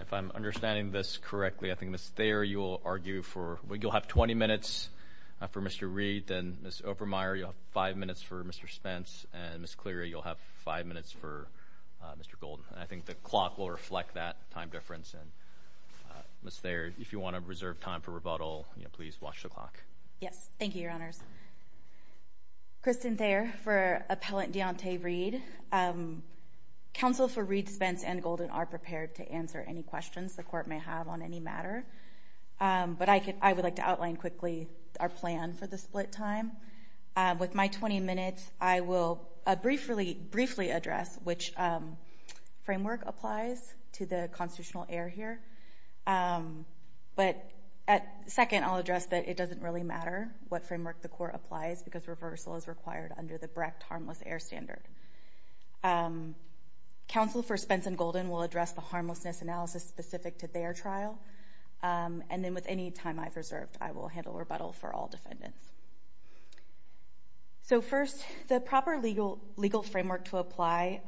If I'm understanding this correctly, I think Ms. Thayer, you'll have 20 minutes for Mr. Reed, then Ms. Obermeyer, you'll have 5 minutes for Mr. Spence, and Ms. Cleary, you'll have 5 minutes for Mr. Golden. I think the clock will reflect that time difference, and Ms. Thayer, if you want to reserve time for rebuttal, please watch the clock. Yes. Thank you, Your Honors. Kristen Thayer for Appellant Deonte Reed. Counsel for Reed, Spence, and Golden are prepared to answer any questions the Court may have on any matter, but I would like to outline quickly our plan for the split time. With my 20 minutes, I will briefly address which framework applies to the constitutional error here, but second, I'll address that it doesn't really matter what framework the Court applies because reversal is required under the Brecht Harmless Error Standard. Counsel for Spence and Golden will address the harmlessness analysis specific to their trial, and then with any time I've reserved, I will handle rebuttal for all defendants. So first, the proper legal framework to apply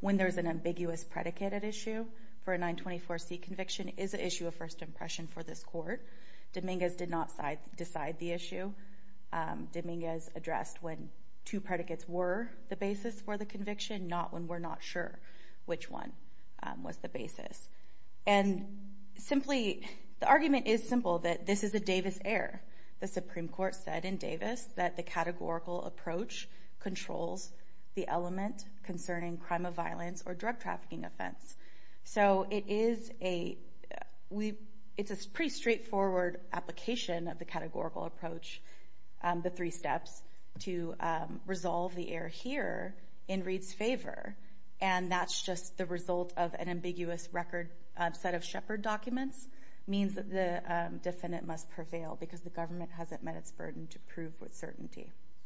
when there's an ambiguous predicated issue for a 924C conviction is an issue of first impression for this Court. Dominguez did not decide the issue. Dominguez addressed when two predicates were the basis for the conviction, not when we're not sure which one was the basis. And simply, the argument is simple, that this is a Davis error. The Supreme Court said in Davis that the categorical approach controls the element concerning crime of violence or drug trafficking offense. So it is a pretty straightforward application of the categorical approach, the three steps, to resolve the error here in Reed's favor, and that's just the result of an ambiguous record set of Shepard documents means that the defendant must prevail because the government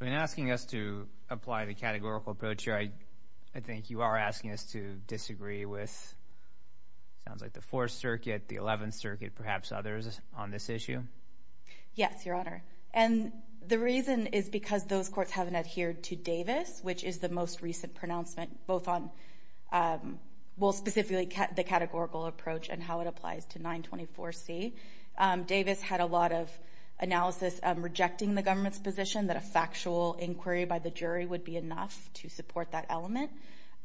In asking us to apply the categorical approach here, I think you are asking us to disagree with, it sounds like the Fourth Circuit, the Eleventh Circuit, perhaps others on this issue? Yes, Your Honor, and the reason is because those courts haven't adhered to Davis, which is the most recent pronouncement, both on, well, specifically the categorical approach and how it applies to 924C. Davis had a lot of analysis rejecting the government's position that a factual inquiry by the jury would be enough to support that element,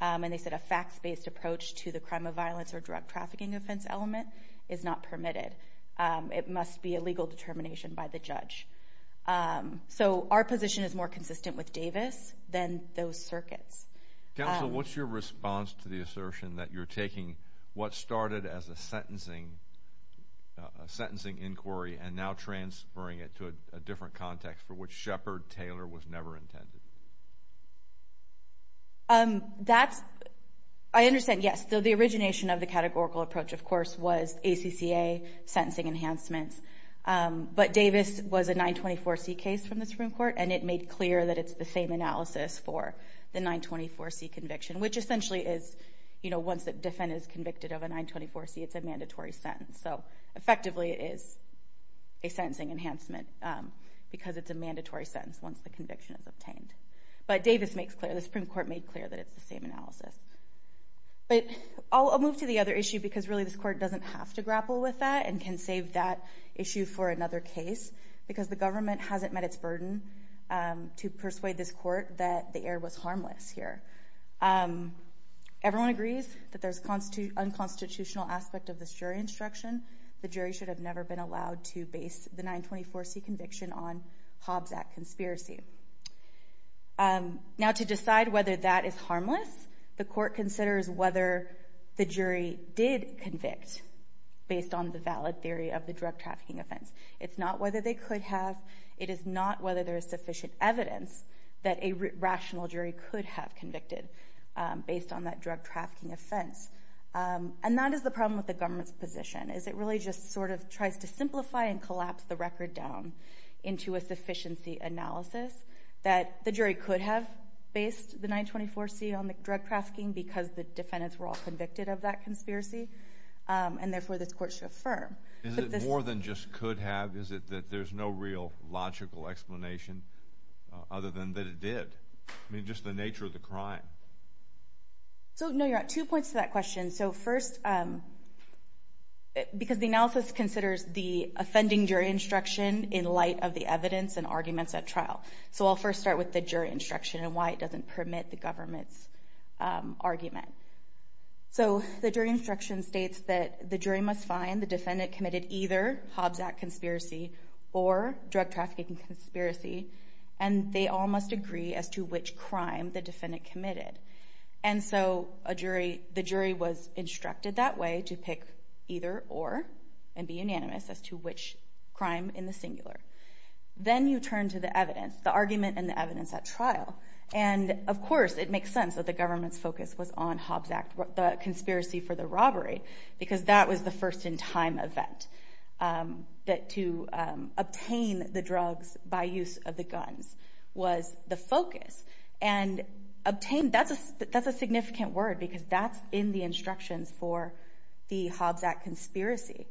and they said a facts-based approach to the crime of violence or drug trafficking offense element is not permitted. It must be a legal determination by the judge. So our position is more consistent with Davis than those circuits. Counsel, what's your response to the assertion that you're taking what started as a sentencing inquiry and now transferring it to a different context for which Shepard-Taylor was never intended? I understand, yes. The origination of the categorical approach, of course, was ACCA sentencing enhancements, but Davis was a 924C case from the Supreme Court, and it made clear that it's the same analysis for the 924C conviction, which essentially is, you know, once the defendant is convicted of a 924C, it's a mandatory sentence. So effectively, it is a sentencing enhancement because it's a mandatory sentence once the conviction is obtained. But Davis makes clear, the Supreme Court made clear that it's the same analysis. But I'll move to the other issue because, really, this court doesn't have to grapple with that and can save that issue for another case because the government hasn't met its burden to persuade this court that the error was harmless here. Everyone agrees that there's unconstitutional aspect of this jury instruction. The jury should have never been allowed to base the 924C conviction on Hobbs Act conspiracy. Now to decide whether that is harmless, the court considers whether the jury did convict based on the valid theory of the drug trafficking offense. It's not whether they could have. It is not whether there is sufficient evidence that a rational jury could have convicted based on that drug trafficking offense. And that is the problem with the government's position, is it really just sort of tries to simplify and collapse the record down into a sufficiency analysis that the jury could have based the 924C on the drug trafficking because the defendants were all convicted of that conspiracy. And therefore, this court should affirm. Is it more than just could have? Is it that there's no real logical explanation other than that it did? I mean, just the nature of the crime. So no, you're at two points to that question. So first, because the analysis considers the offending jury instruction in light of the evidence and arguments at trial. So I'll first start with the jury instruction and why it doesn't permit the government's argument. So the jury instruction states that the jury must find the defendant committed either Hobbs Act conspiracy or drug trafficking conspiracy, and they all must agree as to which crime the defendant committed. And so the jury was instructed that way to pick either or and be unanimous as to which crime in the singular. Then you turn to the evidence, the argument and the evidence at trial. And of course, it makes sense that the government's focus was on Hobbs Act, the conspiracy for the robbery, because that was the first in time event that to obtain the drugs by use of the guns was the focus. And obtain, that's a significant word because that's in the instructions for the Hobbs Act conspiracy.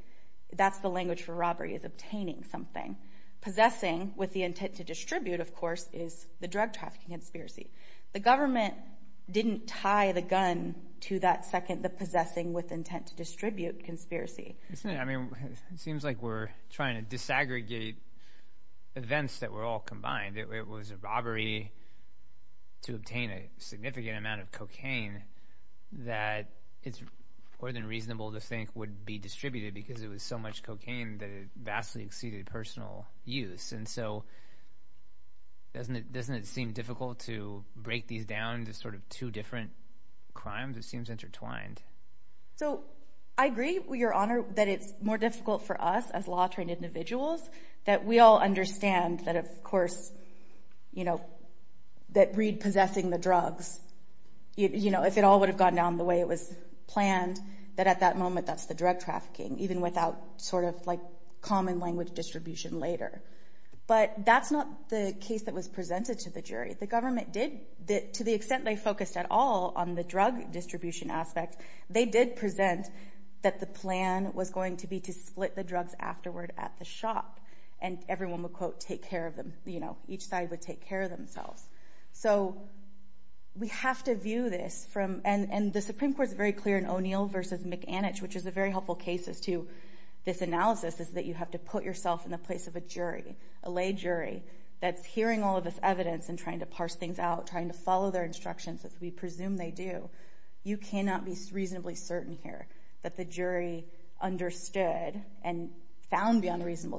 That's the language for robbery is obtaining something. Possessing with the intent to distribute, of course, is the drug trafficking conspiracy. The government didn't tie the gun to that second, the possessing with intent to distribute conspiracy. Isn't it? I mean, it seems like we're trying to disaggregate events that were all combined. It was a robbery to obtain a significant amount of cocaine that it's more than reasonable to think would be distributed because it was so much cocaine that it vastly exceeded personal use. And so doesn't it seem difficult to break these down to sort of two different crimes? It seems intertwined. So I agree, Your Honor, that it's more difficult for us as law trained individuals that we all understand that, of course, you know, that Reed possessing the drugs, you know, if it all would have gone down the way it was planned, that at that moment, that's the drug trafficking, even without sort of like common language distribution later. But that's not the case that was presented to the jury. The government did, to the extent they focused at all on the drug distribution aspect, they did present that the plan was going to be to split the drugs afterward at the shop and everyone would, quote, take care of them, you know, each side would take care of themselves. So we have to view this from, and the Supreme Court is very clear in O'Neill versus McAnich, which is a very helpful case as to this analysis, is that you have to put yourself in the place of a jury, a lay jury, that's hearing all of this evidence and trying to parse things out, trying to follow their instructions as we presume they do. You cannot be reasonably certain here that the jury understood and found beyond reasonable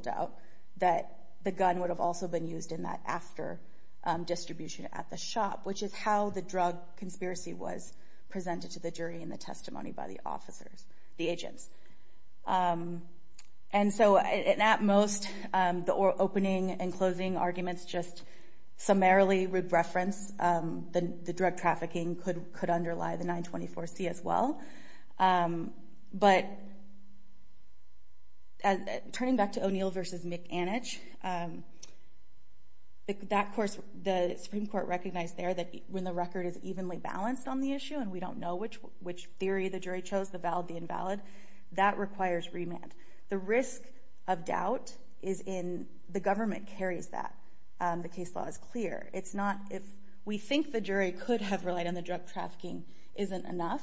distribution at the shop, which is how the drug conspiracy was presented to the jury in the testimony by the officers, the agents. And so at most, the opening and closing arguments just summarily reference the drug trafficking could underlie the 924C as well. But turning back to O'Neill versus McAnich, that course, the Supreme Court recognized there that when the record is evenly balanced on the issue and we don't know which theory the jury chose, the valid, the invalid, that requires remand. The risk of doubt is in, the government carries that, the case law is clear. It's not, if we think the jury could have relied on the drug trafficking, isn't enough.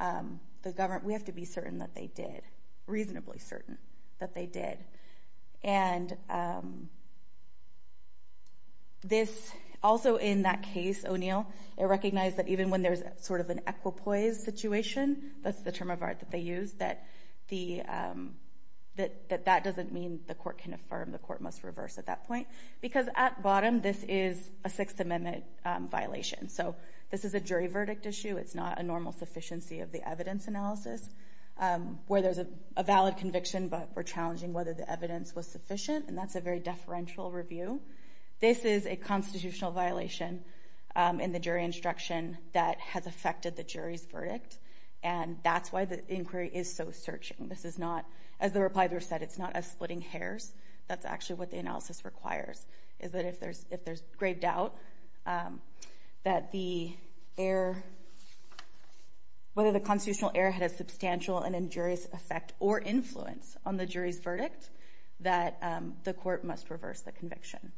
The government, we have to be certain that they did, reasonably certain that they did. And this, also in that case, O'Neill, it recognized that even when there's sort of an equipoise situation, that's the term of art that they used, that that doesn't mean the court can affirm, the court must reverse at that point. Because at bottom, this is a Sixth Amendment violation. So this is a jury verdict issue. It's not a normal sufficiency of the evidence analysis, where there's a valid conviction, but we're challenging whether the evidence was sufficient, and that's a very deferential review. This is a constitutional violation in the jury instruction that has affected the jury's verdict. And that's why the inquiry is so searching. This is not, as the reply group said, it's not a splitting hairs. That's actually what the analysis requires, is that if there's grave doubt that the error, whether the constitutional error had a substantial and injurious effect or influence on the jury's verdict, that the court must reverse the conviction.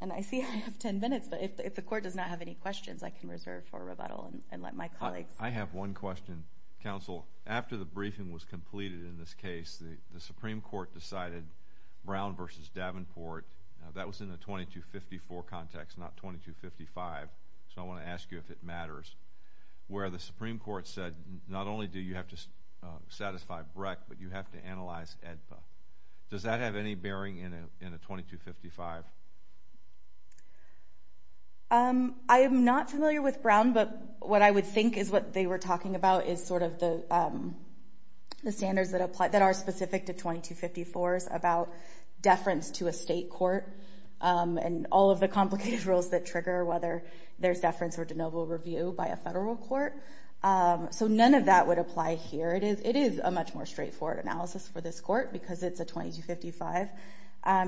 And I see I have 10 minutes, but if the court does not have any questions, I can reserve for rebuttal and let my colleagues. I have one question, Counsel. After the briefing was completed in this case, the Supreme Court decided Brown v. Davenport, that was in a 2254 context, not 2255, so I want to ask you if it matters, where the Supreme Court said, not only do you have to satisfy Breck, but you have to analyze AEDPA. Does that have any bearing in a 2255? I am not familiar with Brown, but what I would think is what they were talking about is sort of the standards that are specific to 2254s about deference to a state court and all of the complicated rules that trigger whether there's deference or de novo review by a federal court. So none of that would apply here. It is a much more straightforward analysis for this court because it's a 2255.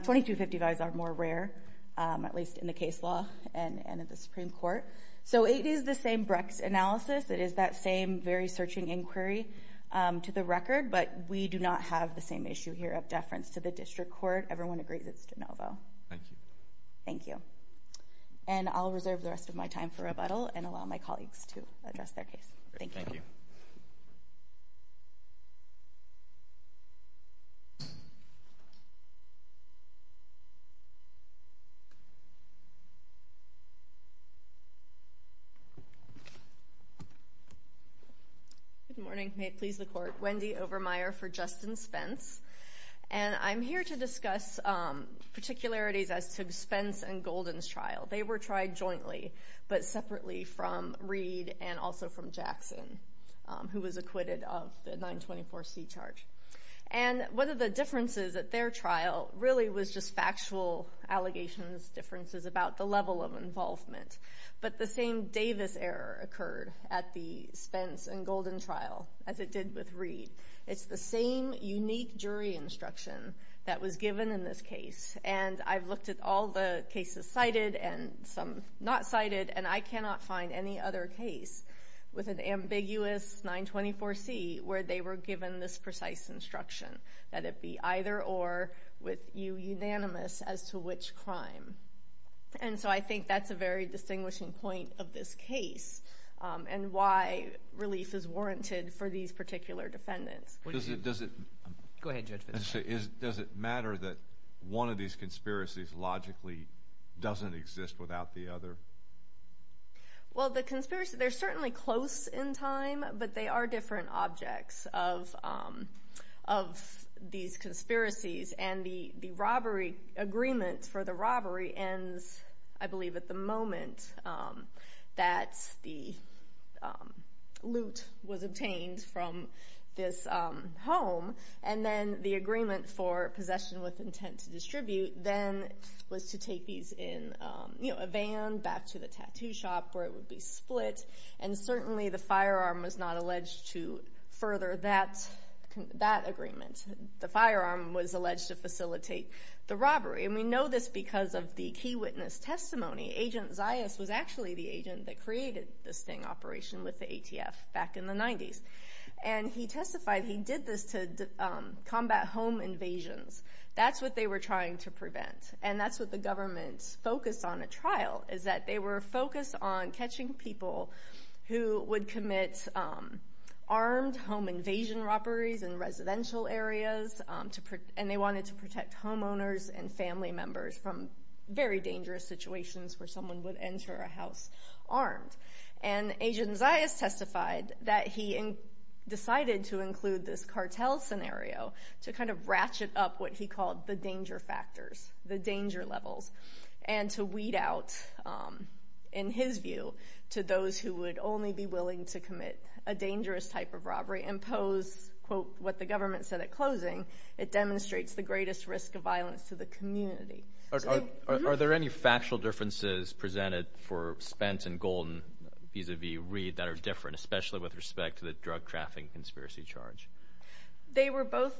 2255s are more rare, at least in the case law and at the Supreme Court. So it is the same Brecks analysis. It is that same very searching inquiry to the record, but we do not have the same issue here of deference to the district court. Everyone agrees it's de novo. Thank you. Thank you. And I'll reserve the rest of my time for rebuttal and allow my colleagues to address their case. Thank you. Thank you. Good morning. May it please the court. Wendy Overmeyer for Justin Spence. And I'm here to discuss particularities as to Spence and Golden's trial. They were tried jointly, but separately from Reed and also from Jackson, who was acquitted of the 924C charge. And one of the differences at their trial really was just factual allegations, differences about the level of involvement. But the same Davis error occurred at the Spence and Golden trial as it did with Reed. It's the same unique jury instruction that was given in this case. And I've looked at all the cases cited and some not cited, and I cannot find any other case with an ambiguous 924C where they were given this precise instruction that it be either or with you unanimous as to which crime. And so I think that's a very distinguishing point of this case and why relief is warranted for these particular defendants. Does it matter that one of these conspiracies logically doesn't exist without the other? Well, the conspiracy, they're certainly close in time, but they are different objects of these conspiracies. And the robbery agreement for the robbery ends, I believe, at the moment that the loot was obtained from this home. And then the agreement for possession with intent to distribute then was to take these in a van back to the tattoo shop where it would be split. And certainly the firearm was not alleged to further that agreement. The firearm was alleged to facilitate the robbery. And we know this because of the key witness testimony. Agent Zayas was actually the agent that created this sting operation with the ATF back in the 90s. And he testified he did this to combat home invasions. That's what they were trying to prevent. And that's what the government's focus on at trial is that they were focused on catching people who would commit armed home invasion robberies in residential areas. And they wanted to protect homeowners and family members from very dangerous situations where someone would enter a house armed. And Agent Zayas testified that he decided to include this cartel scenario to kind of lower the danger levels. And to weed out, in his view, to those who would only be willing to commit a dangerous type of robbery and impose, quote, what the government said at closing, it demonstrates the greatest risk of violence to the community. Are there any factual differences presented for Spence and Golden vis-a-vis Reed that are different, especially with respect to the drug trafficking conspiracy charge? They were both,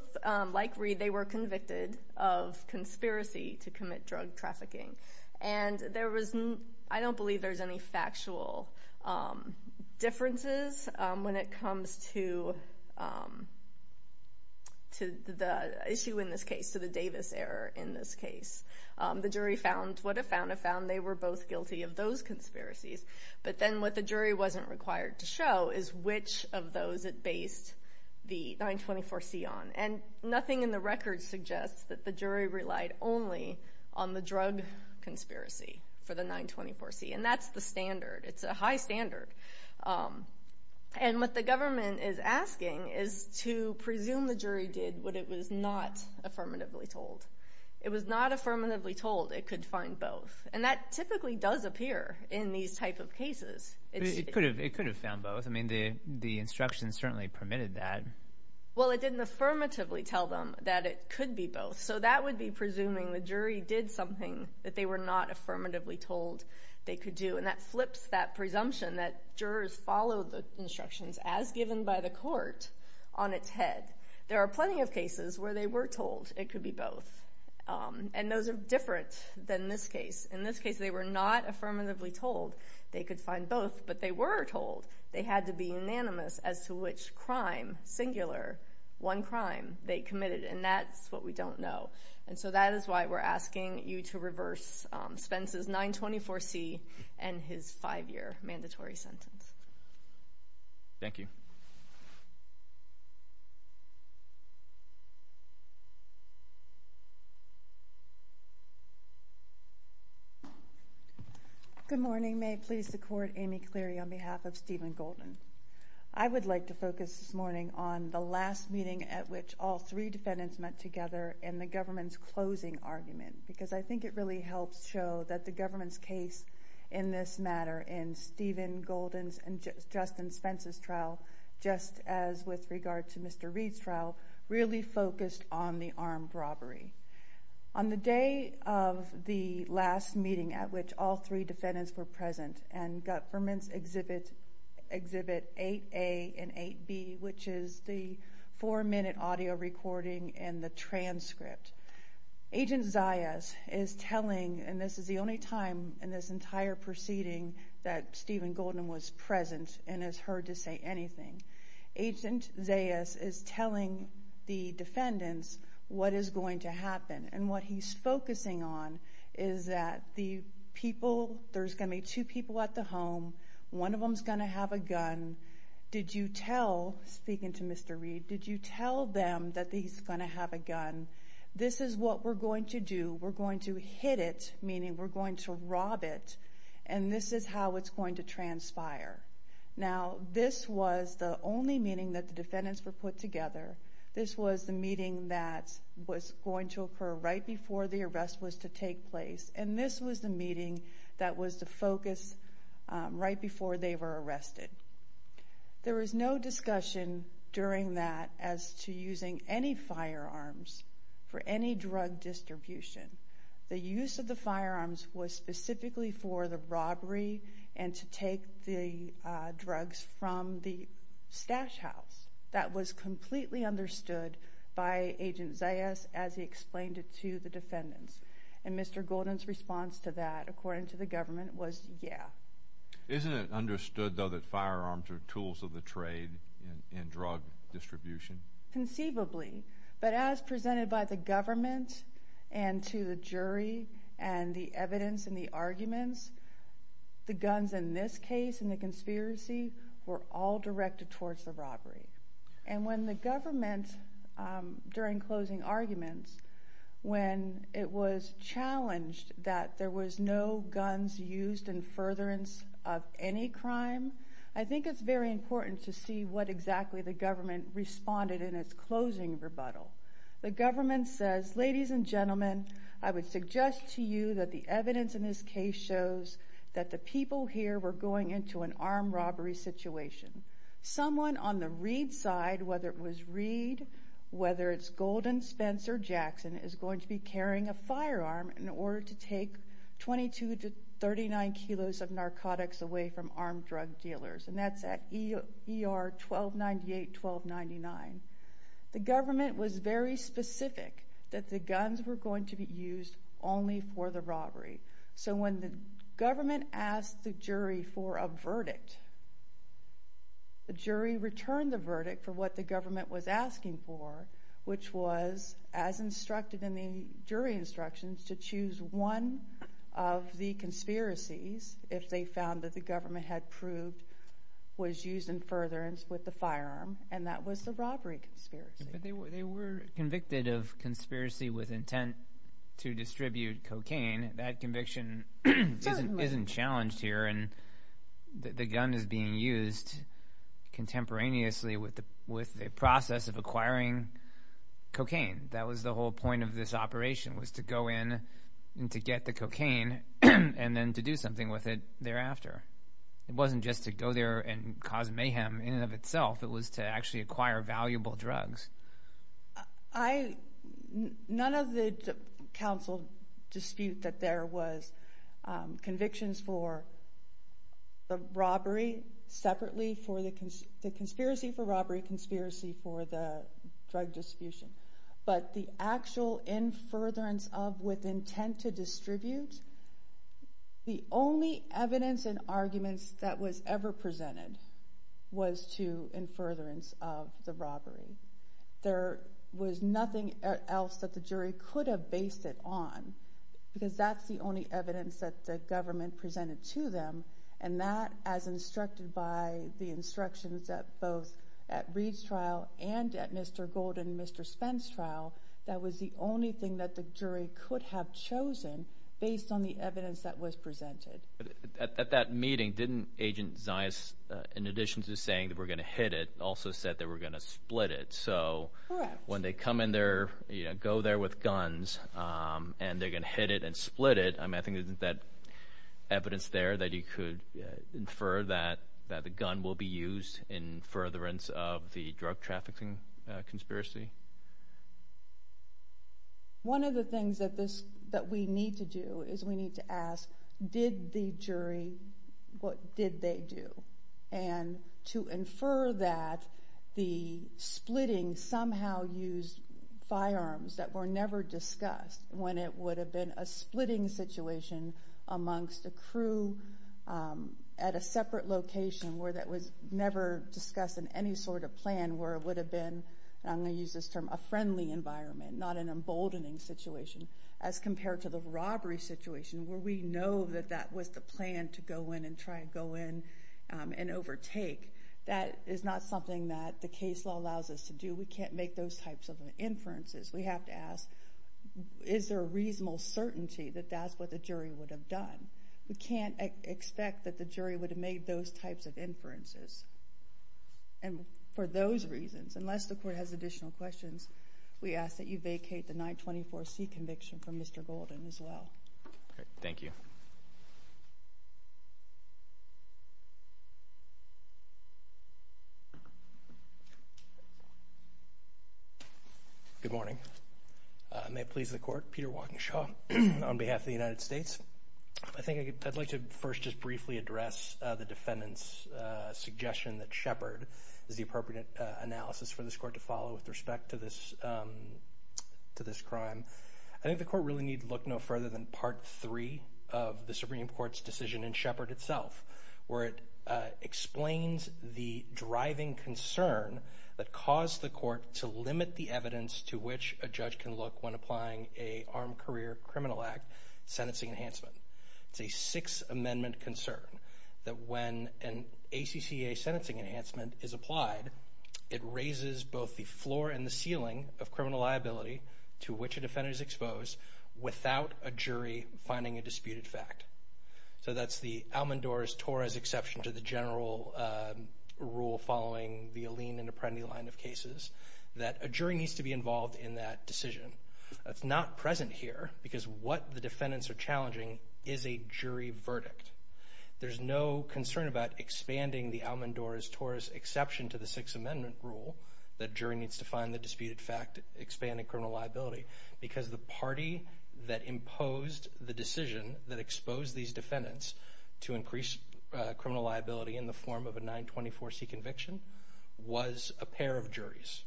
like Reed, they were convicted of conspiracy to commit drug trafficking. And there was, I don't believe there's any factual differences when it comes to the issue in this case, to the Davis error in this case. The jury found what it found, it found they were both guilty of those conspiracies. But then what the jury wasn't required to show is which of those it based the 924C on. And nothing in the record suggests that the jury relied only on the drug conspiracy for the 924C. And that's the standard. It's a high standard. And what the government is asking is to presume the jury did what it was not affirmatively told. It was not affirmatively told it could find both. And that typically does appear in these type of cases. It could have found both. I mean, the instructions certainly permitted that. Well, it didn't affirmatively tell them that it could be both. So that would be presuming the jury did something that they were not affirmatively told they could do. And that flips that presumption that jurors followed the instructions as given by the court on its head. There are plenty of cases where they were told it could be both. And those are different than this case. In this case, they were not affirmatively told they could find both. But they were told they had to be unanimous as to which crime, singular, one crime, they committed. And that's what we don't know. And so that is why we're asking you to reverse Spence's 924C and his five-year mandatory sentence. Thank you. Good morning. May it please the Court, Amy Cleary on behalf of Stephen Golden. I would like to focus this morning on the last meeting at which all three defendants met together in the government's closing argument. Because I think it really helps show that the government's case in this matter in Stephen Golden's and Justin Spence's trial, just as with regard to Mr. Reed's trial, really focused on the armed robbery. On the day of the last meeting at which all three defendants were present and government's exhibit 8A and 8B, which is the four-minute audio recording and the transcript, Agent Zayas is telling, and this is the only time in this entire proceeding that Stephen Golden was present and has heard to say anything. Agent Zayas is telling the defendants what is going to happen. And what he's focusing on is that the people, there's going to be two people at the home. One of them's going to have a gun. Did you tell, speaking to Mr. Reed, did you tell them that he's going to have a gun? This is what we're going to do. We're going to hit it, meaning we're going to rob it. And this is how it's going to transpire. Now, this was the only meeting that the defendants were put together. This was the meeting that was going to occur right before the arrest was to take place. And this was the meeting that was the focus right before they were arrested. There was no discussion during that as to using any firearms for any drug distribution. The use of the firearms was specifically for the robbery and to take the drugs from the stash house. That was completely understood by Agent Zayas as he explained it to the defendants. And Mr. Golden's response to that, according to the government, was, yeah. Isn't it understood, though, that firearms are tools of the trade in drug distribution? Conceivably. But as presented by the government and to the jury and the evidence and the arguments, the guns in this case and the conspiracy were all directed towards the robbery. And when the government, during closing arguments, when it was challenged that there was no guns used in furtherance of any crime, I think it's very important to see what exactly the government founded in its closing rebuttal. The government says, ladies and gentlemen, I would suggest to you that the evidence in this case shows that the people here were going into an armed robbery situation. Someone on the Reed side, whether it was Reed, whether it's Golden, Spence, or Jackson, is going to be carrying a firearm in order to take 22 to 39 kilos of narcotics away from The government was very specific that the guns were going to be used only for the robbery. So when the government asked the jury for a verdict, the jury returned the verdict for what the government was asking for, which was, as instructed in the jury instructions, to choose one of the conspiracies, if they found that the government had proved was used in furtherance with the firearm, and that was the robbery conspiracy. They were convicted of conspiracy with intent to distribute cocaine. That conviction isn't challenged here, and the gun is being used contemporaneously with the process of acquiring cocaine. That was the whole point of this operation, was to go in and to get the cocaine, and then to do something with it thereafter. It wasn't just to go there and cause mayhem in and of itself. It was to actually acquire valuable drugs. None of the counsel dispute that there was convictions for the robbery separately for the conspiracy for robbery, conspiracy for the drug distribution, but the actual in furtherance of with intent to distribute. The only evidence and arguments that was ever presented was to in furtherance of the robbery. There was nothing else that the jury could have based it on, because that's the only evidence that the government presented to them, and that as instructed by the instructions that both at Reed's trial and at Mr. Gold and Mr. Spence trial, that was the only thing that the jury could have chosen based on the evidence that was presented. At that meeting, didn't Agent Zias, in addition to saying that we're going to hit it, also said that we're going to split it? Correct. When they come in there, go there with guns, and they're going to hit it and split it, I think that evidence there that you could infer that the gun will be used in furtherance of the drug trafficking conspiracy. One of the things that we need to do is we need to ask, did the jury, what did they do? And to infer that the splitting somehow used firearms that were never discussed when it would have been a splitting situation amongst a crew at a separate location where that was never discussed in any sort of plan where it would have been, and I'm going to use this term, a friendly environment, not an emboldening situation, as compared to the robbery situation where we know that that was the plan to go in and try to go in and overtake. That is not something that the case law allows us to do. We can't make those types of inferences. We have to ask, is there a reasonable certainty that that's what the jury would have done? We can't expect that the jury would have made those types of inferences. And for those reasons, unless the court has additional questions, we ask that you vacate the 924C conviction from Mr. Golden as well. Thank you. Good morning. May it please the court, Peter Walkinshaw on behalf of the United States. I think I'd like to first just briefly address the defendant's suggestion that Shepard is the appropriate analysis for this court to follow with respect to this crime. I think the court really need to look no further than part three of the Supreme Court's decision in Shepard itself, where it explains the driving concern that caused the court to limit the enhancement. It's a Sixth Amendment concern, that when an ACCA sentencing enhancement is applied, it raises both the floor and the ceiling of criminal liability to which a defendant is exposed without a jury finding a disputed fact. So that's the Almendore's-Torres exception to the general rule following the Alleen and Apprendi line of cases, that a jury needs to be involved in that decision. That's not present here, because what the defendants are challenging is a jury verdict. There's no concern about expanding the Almendore's-Torres exception to the Sixth Amendment rule, that jury needs to find the disputed fact, expanding criminal liability, because the party that imposed the decision that exposed these defendants to increase criminal liability in the form of a 924C conviction was a pair of juries,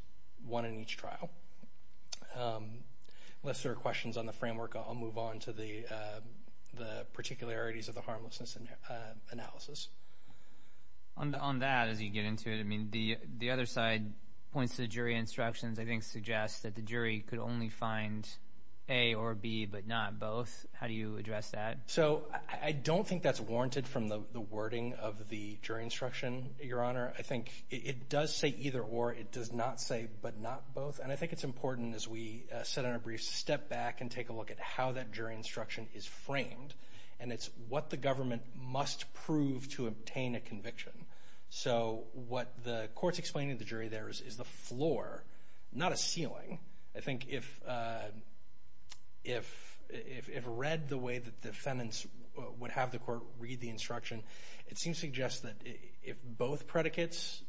one in each trial. Unless there are questions on the framework, I'll move on to the particularities of the harmlessness analysis. On that, as you get into it, I mean, the other side points to jury instructions, I think suggests that the jury could only find A or B, but not both. How do you address that? I don't think that's warranted from the wording of the jury instruction, Your Honor. I think it does say either or, it does not say but not both, and I think it's important as we sit on a brief step back and take a look at how that jury instruction is framed, and it's what the government must prove to obtain a conviction. What the court's explaining to the jury there is the floor, not a ceiling. I think if read the way that defendants would have the court read the instruction, it seems to suggest that if both predicates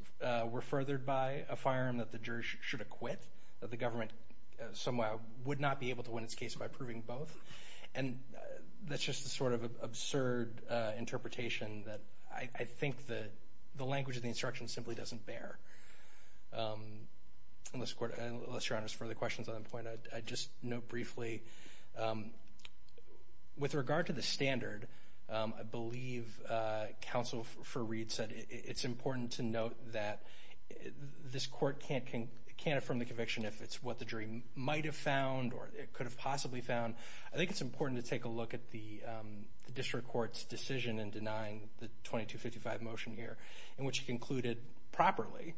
were furthered by a firearm that the jury should acquit, that the government somehow would not be able to win its case by proving both, and that's just a sort of absurd interpretation that I think the language of the instruction simply doesn't bear. Unless, Your Honor, there's further questions on that point, I'd just note briefly, with regard to the standard, I believe Counsel for Reed said it's important to note that this court can't affirm the conviction if it's what the jury might have found or could have possibly found. I think it's important to take a look at the district court's decision in denying the 2255 motion here, in which it concluded properly,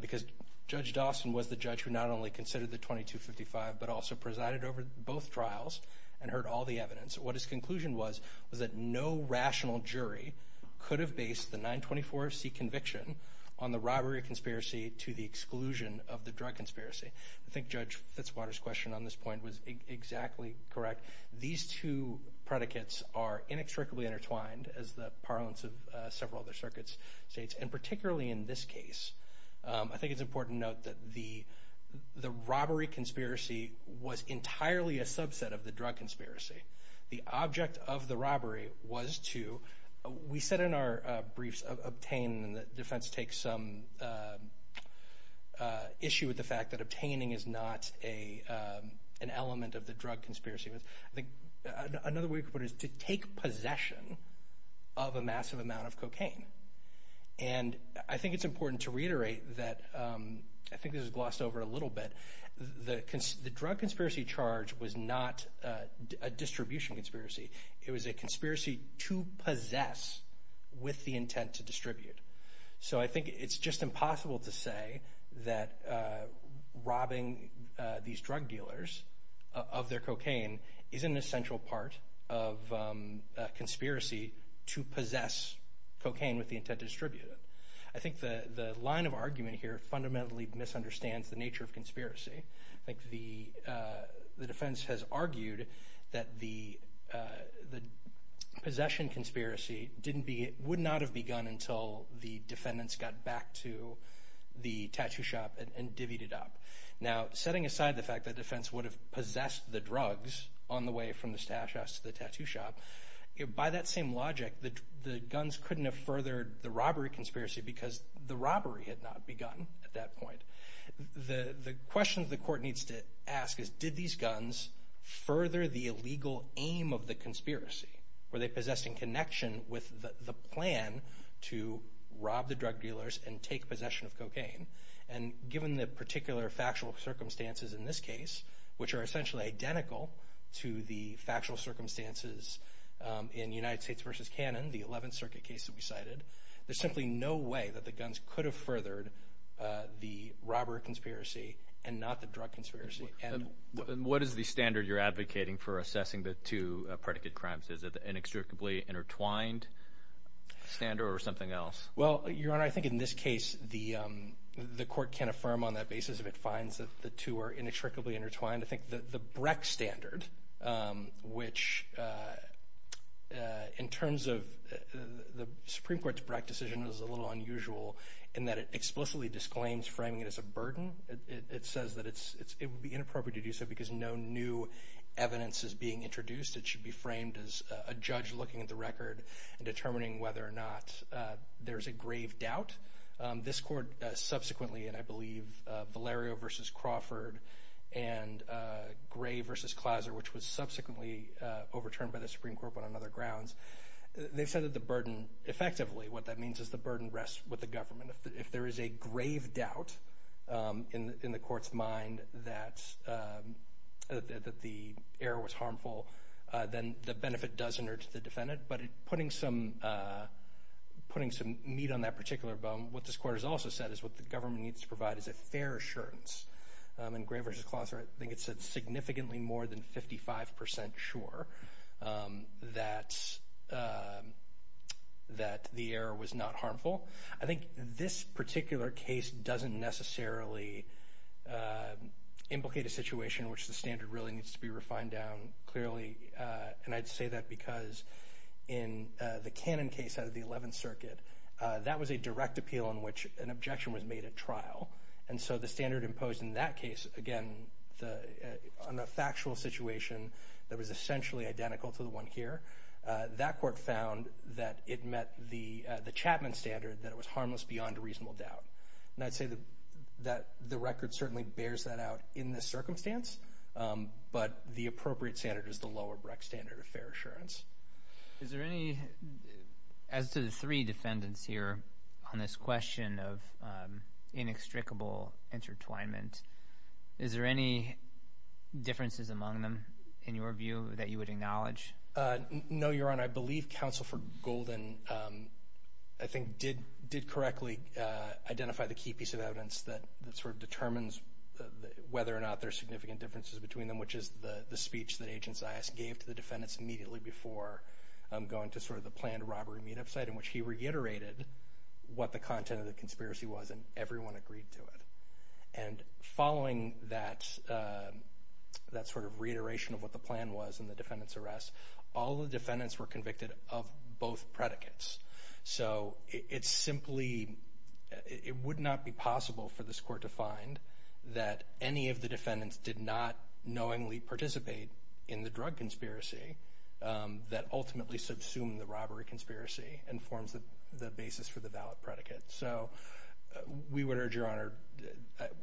because Judge Dawson was the judge who not only considered the 2255, but also presided over both trials and heard all the evidence. What his conclusion was, was that no rational jury could have based the 924C conviction on the robbery conspiracy to the exclusion of the drug conspiracy. I think Judge Fitzwater's question on this point was exactly correct. These two predicates are inextricably intertwined, as the parlance of several other circuits states, and particularly in this case, I think it's important to note that the robbery conspiracy was entirely a subset of the drug conspiracy. The object of the robbery was to, we said in our briefs, obtain, and the defense takes some issue with the fact that obtaining is not an element of the drug conspiracy. Another way to put it is to take possession of a massive amount of cocaine. I think it's important to reiterate that, I think this is glossed over a little bit, the drug conspiracy charge was not a distribution conspiracy. It was a conspiracy to possess with the intent to distribute. So I think it's just impossible to say that robbing these drug dealers of their cocaine is an essential part of a conspiracy to possess cocaine with the intent to distribute it. I think the line of argument here fundamentally misunderstands the nature of conspiracy. I think the defense has argued that the possession conspiracy didn't be, would not have begun until the defendants got back to the tattoo shop and divvied it up. Now setting aside the fact that defense would have possessed the drugs on the way from the stash house to the tattoo shop, by that same logic, the guns couldn't have furthered the robbery conspiracy because the robbery had not begun at that point. The question the court needs to ask is, did these guns further the illegal aim of the to rob the drug dealers and take possession of cocaine? And given the particular factual circumstances in this case, which are essentially identical to the factual circumstances in United States v. Cannon, the 11th Circuit case that we cited, there's simply no way that the guns could have furthered the robber conspiracy and not the drug conspiracy. And what is the standard you're advocating for assessing the two predicate crimes? Is it the inextricably intertwined standard or something else? Well, Your Honor, I think in this case the court can't affirm on that basis if it finds that the two are inextricably intertwined. I think that the Breck standard, which in terms of the Supreme Court's Breck decision is a little unusual in that it explicitly disclaims framing it as a burden. It says that it would be inappropriate to do so because no new evidence is being introduced. It should be framed as a judge looking at the record and determining whether or not there's a grave doubt. This court subsequently, and I believe Valerio v. Crawford and Gray v. Clauser, which was subsequently overturned by the Supreme Court but on other grounds, they've said that the burden effectively, what that means is the burden rests with the government. If there is a grave doubt in the court's mind that the error was harmful, then the benefit does enter to the defendant. But putting some meat on that particular bone, what this court has also said is what the government needs to provide is a fair assurance. And Gray v. Clauser, I think it said significantly more than 55 percent sure that the error was not harmful. I think this particular case doesn't necessarily implicate a situation in which the standard really needs to be refined down clearly. And I'd say that because in the Cannon case out of the 11th Circuit, that was a direct appeal in which an objection was made at trial. And so the standard imposed in that case, again, on a factual situation that was essentially identical to the one here, that court found that it met the Chapman standard that it was harmless beyond a reasonable doubt. And I'd say that the record certainly bears that out in this circumstance. But the appropriate standard is the lower Brecht standard of fair assurance. Is there any, as to the three defendants here on this question of inextricable intertwinement, is there any differences among them in your view that you would acknowledge? No, Your Honor. I believe Counsel for Golden, I think, did correctly identify the key piece of evidence that determines whether or not there are significant differences between them, which is the speech that Agent Zias gave to the defendants immediately before going to the planned robbery meetup site in which he reiterated what the content of the conspiracy was and everyone agreed to it. And following that sort of reiteration of what the plan was in the defendant's arrest, all the defendants were convicted of both predicates. So it's simply, it would not be possible for this court to find that any of the defendants did not knowingly participate in the drug conspiracy that ultimately subsumed the robbery conspiracy and forms the basis for the valid predicate. So we would urge, Your Honor,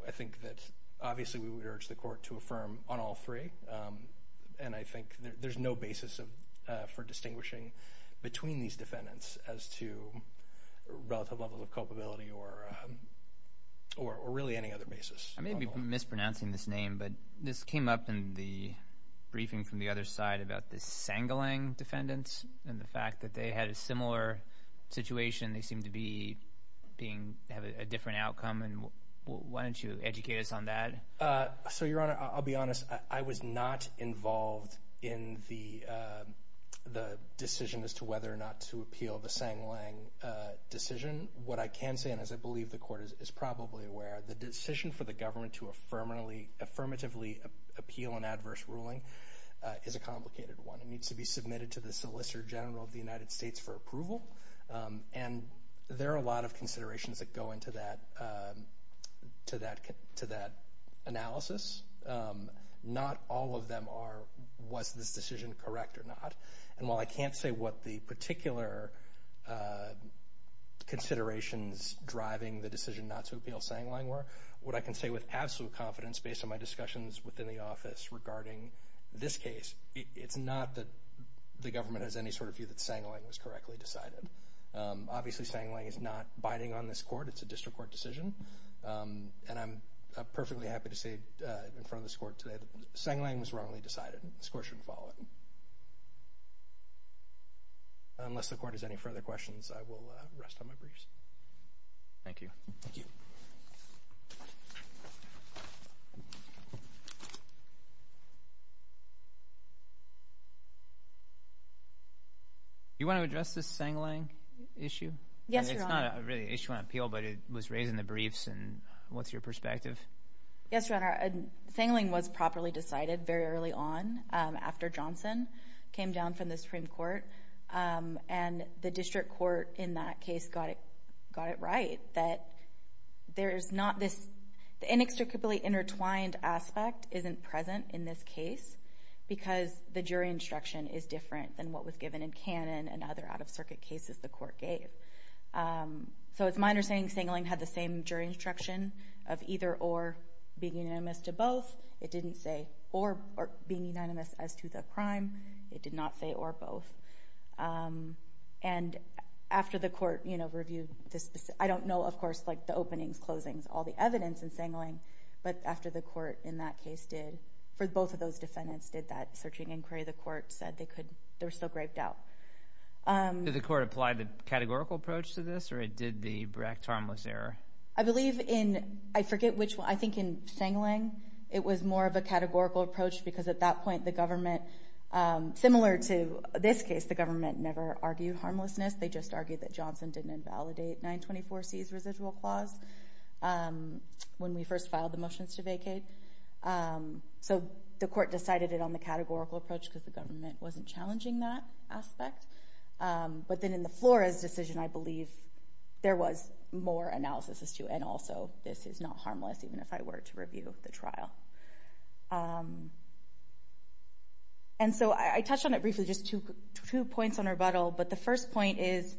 I think that obviously we would urge the court to affirm on all three, and I think there's no basis for distinguishing between these defendants as to relative levels of culpability or really any other basis. I may be mispronouncing this name, but this came up in the briefing from the other side about the sangling defendants and the fact that they had a similar situation, they seemed to be being, have a different outcome, and why don't you educate us on that? So Your Honor, I'll be honest, I was not involved in the decision as to whether or not to appeal the sangling decision. What I can say, and as I believe the court is probably aware, the decision for the government to affirmatively appeal an adverse ruling is a complicated one. It needs to be submitted to the Solicitor General of the United States for approval, and there are a lot of considerations that go into that analysis. Not all of them are, was this decision correct or not? And while I can't say what the particular considerations driving the decision not to appeal sangling were, what I can say with absolute confidence based on my discussions within the office regarding this case, it's not that the government has any sort of view that sangling was correctly decided. Obviously, sangling is not biding on this court, it's a district court decision, and I'm perfectly happy to say in front of this court today that sangling was wrongly decided. This court shouldn't follow it. Unless the court has any further questions, I will rest on my briefs. Thank you. Thank you. Thank you. Do you want to address this sangling issue? Yes, Your Honor. It's not really an issue on appeal, but it was raised in the briefs, and what's your perspective? Yes, Your Honor. Sangling was properly decided very early on, after Johnson came down from the Supreme Court, and the district court in that case got it right, that the inextricably intertwined aspect isn't present in this case because the jury instruction is different than what was given in Cannon and other out-of-circuit cases the court gave. So it's my understanding sangling had the same jury instruction of either or being unanimous to both. It didn't say or being unanimous as to the crime. It did not say or both. And after the court, you know, reviewed this, I don't know, of course, like the openings, closings, all the evidence in sangling, but after the court in that case did, for both of those defendants did that searching inquiry, the court said they could, they were still griped out. Did the court apply the categorical approach to this, or it did the Brecht harmless error? I believe in, I forget which one, I think in sangling it was more of a categorical approach because at that point the government, similar to this case, the government never argued harmlessness. They just argued that Johnson didn't invalidate 924C's residual clause when we first filed the motions to vacate. So the court decided it on the categorical approach because the government wasn't challenging that aspect. But then in the Flores decision, I believe there was more analysis as to, and also this is not harmless, even if I were to review the trial. And so I touched on it briefly, just two points on rebuttal, but the first point is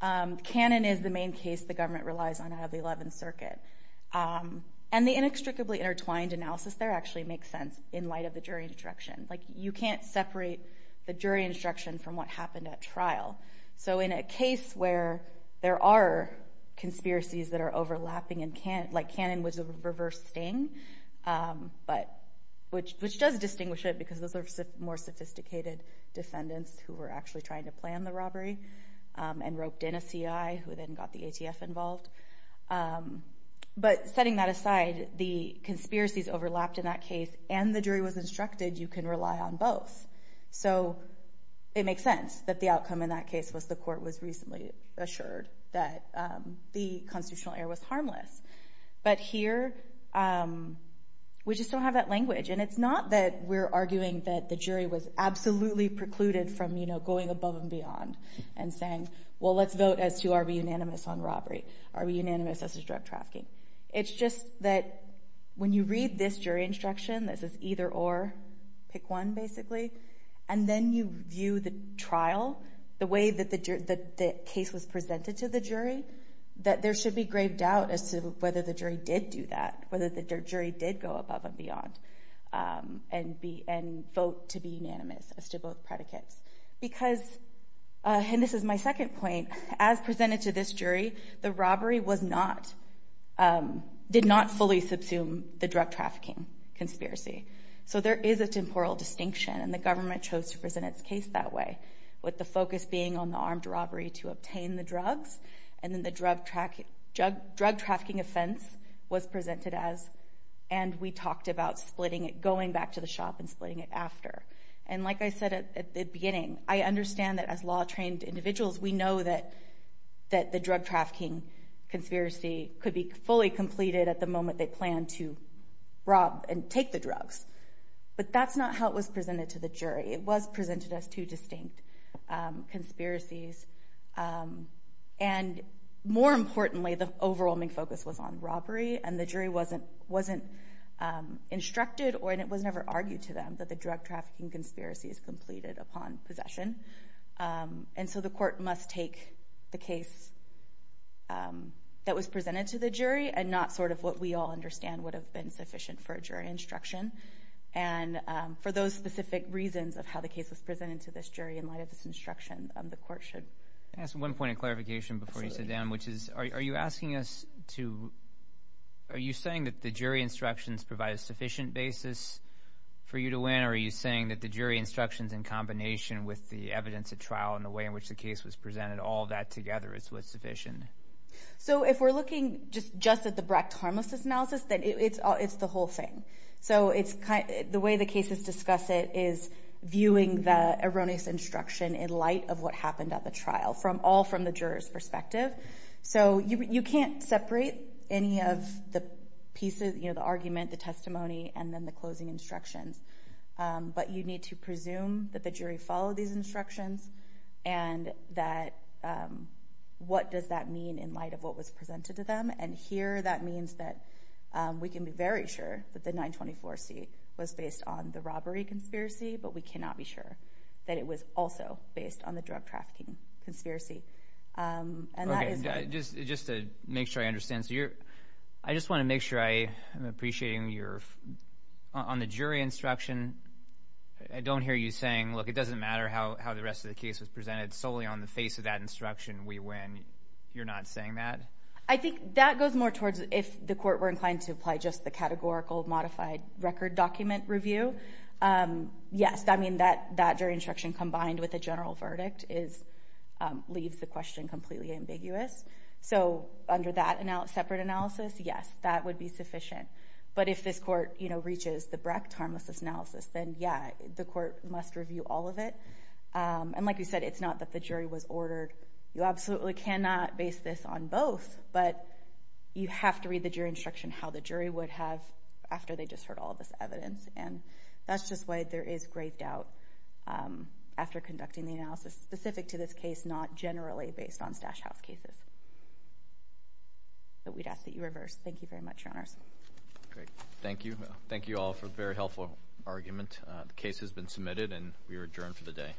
Canon is the main case the government relies on out of the 11th Circuit. And the inextricably intertwined analysis there actually makes sense in light of the jury instruction. Like you can't separate the jury instruction from what happened at trial. So in a case where there are conspiracies that are overlapping, like Canon was a reverse sting, which does distinguish it because those are more sophisticated defendants who were actually trying to plan the robbery and roped in a CI who then got the ATF involved. But setting that aside, the conspiracies overlapped in that case and the jury was instructed you can rely on both. So it makes sense that the outcome in that case was the court was recently assured that the constitutional error was harmless. But here we just don't have that language. And it's not that we're arguing that the jury was absolutely precluded from going above and beyond and saying, well, let's vote as to are we unanimous on robbery, are we unanimous as to drug trafficking. It's just that when you read this jury instruction, this is either or, pick one basically, and then you view the trial, the way that the case was presented to the jury, that there should be grave doubt as to whether the jury did do that, whether the jury did go above and beyond and vote to be unanimous as to both predicates. Because, and this is my second point, as presented to this jury, the robbery did not fully subsume the drug trafficking conspiracy. So there is a temporal distinction and the government chose to present its case that way with the focus being on the armed robbery to obtain the drugs and then the drug trafficking offense was presented as, and we talked about splitting it, going back to the shop and splitting it after. And like I said at the beginning, I understand that as law-trained individuals, we know that the drug trafficking conspiracy could be fully completed at the moment they planned to rob and take the drugs, but that's not how it was presented to the jury. It was presented as two distinct conspiracies and more importantly, the overwhelming focus was on robbery and the jury wasn't instructed or, and it was never argued to them, that the drug trafficking conspiracy is completed upon possession. And so the court must take the case that was presented to the jury and not sort of what we all understand would have been sufficient for a jury instruction. And for those specific reasons of how the case was presented to this jury in light of this instruction, the court should. Can I ask one point of clarification before you sit down? Absolutely. Which is, are you asking us to, are you saying that the jury instructions provide a sufficient basis for you to win or are you saying that the jury instructions in combination with the evidence at trial and the way in which the case was presented, all that together is what's sufficient? So if we're looking just at the Brecht harmlessness analysis, then it's the whole thing. So it's kind of, the way the cases discuss it is viewing the erroneous instruction in light of what happened at the trial, all from the juror's perspective. So you can't separate any of the pieces, you know, the argument, the testimony, and then the closing instructions. But you need to presume that the jury followed these instructions and that, what does that mean in light of what was presented to them? And here that means that we can be very sure that the 924C was based on the robbery conspiracy, but we cannot be sure that it was also based on the drug trafficking conspiracy. Okay, just to make sure I understand, so you're, I just want to make sure I'm appreciating your, on the jury instruction, I don't hear you saying, look, it doesn't matter how the rest of the case was presented, solely on the face of that instruction we win. You're not saying that? I think that goes more towards, if the court were inclined to apply just the categorical modified record document review, yes, I mean that jury instruction combined with a general review leaves the question completely ambiguous. So under that separate analysis, yes, that would be sufficient. But if this court, you know, reaches the Brecht harmlessness analysis, then yeah, the court must review all of it. And like you said, it's not that the jury was ordered, you absolutely cannot base this on both, but you have to read the jury instruction how the jury would have after they just heard all of this evidence. And that's just why there is great doubt after conducting the analysis specific to this case, it's not generally based on Stash House cases. But we'd ask that you reverse. Thank you very much, Your Honors. Thank you. Thank you all for a very helpful argument. The case has been submitted and we are adjourned for the day.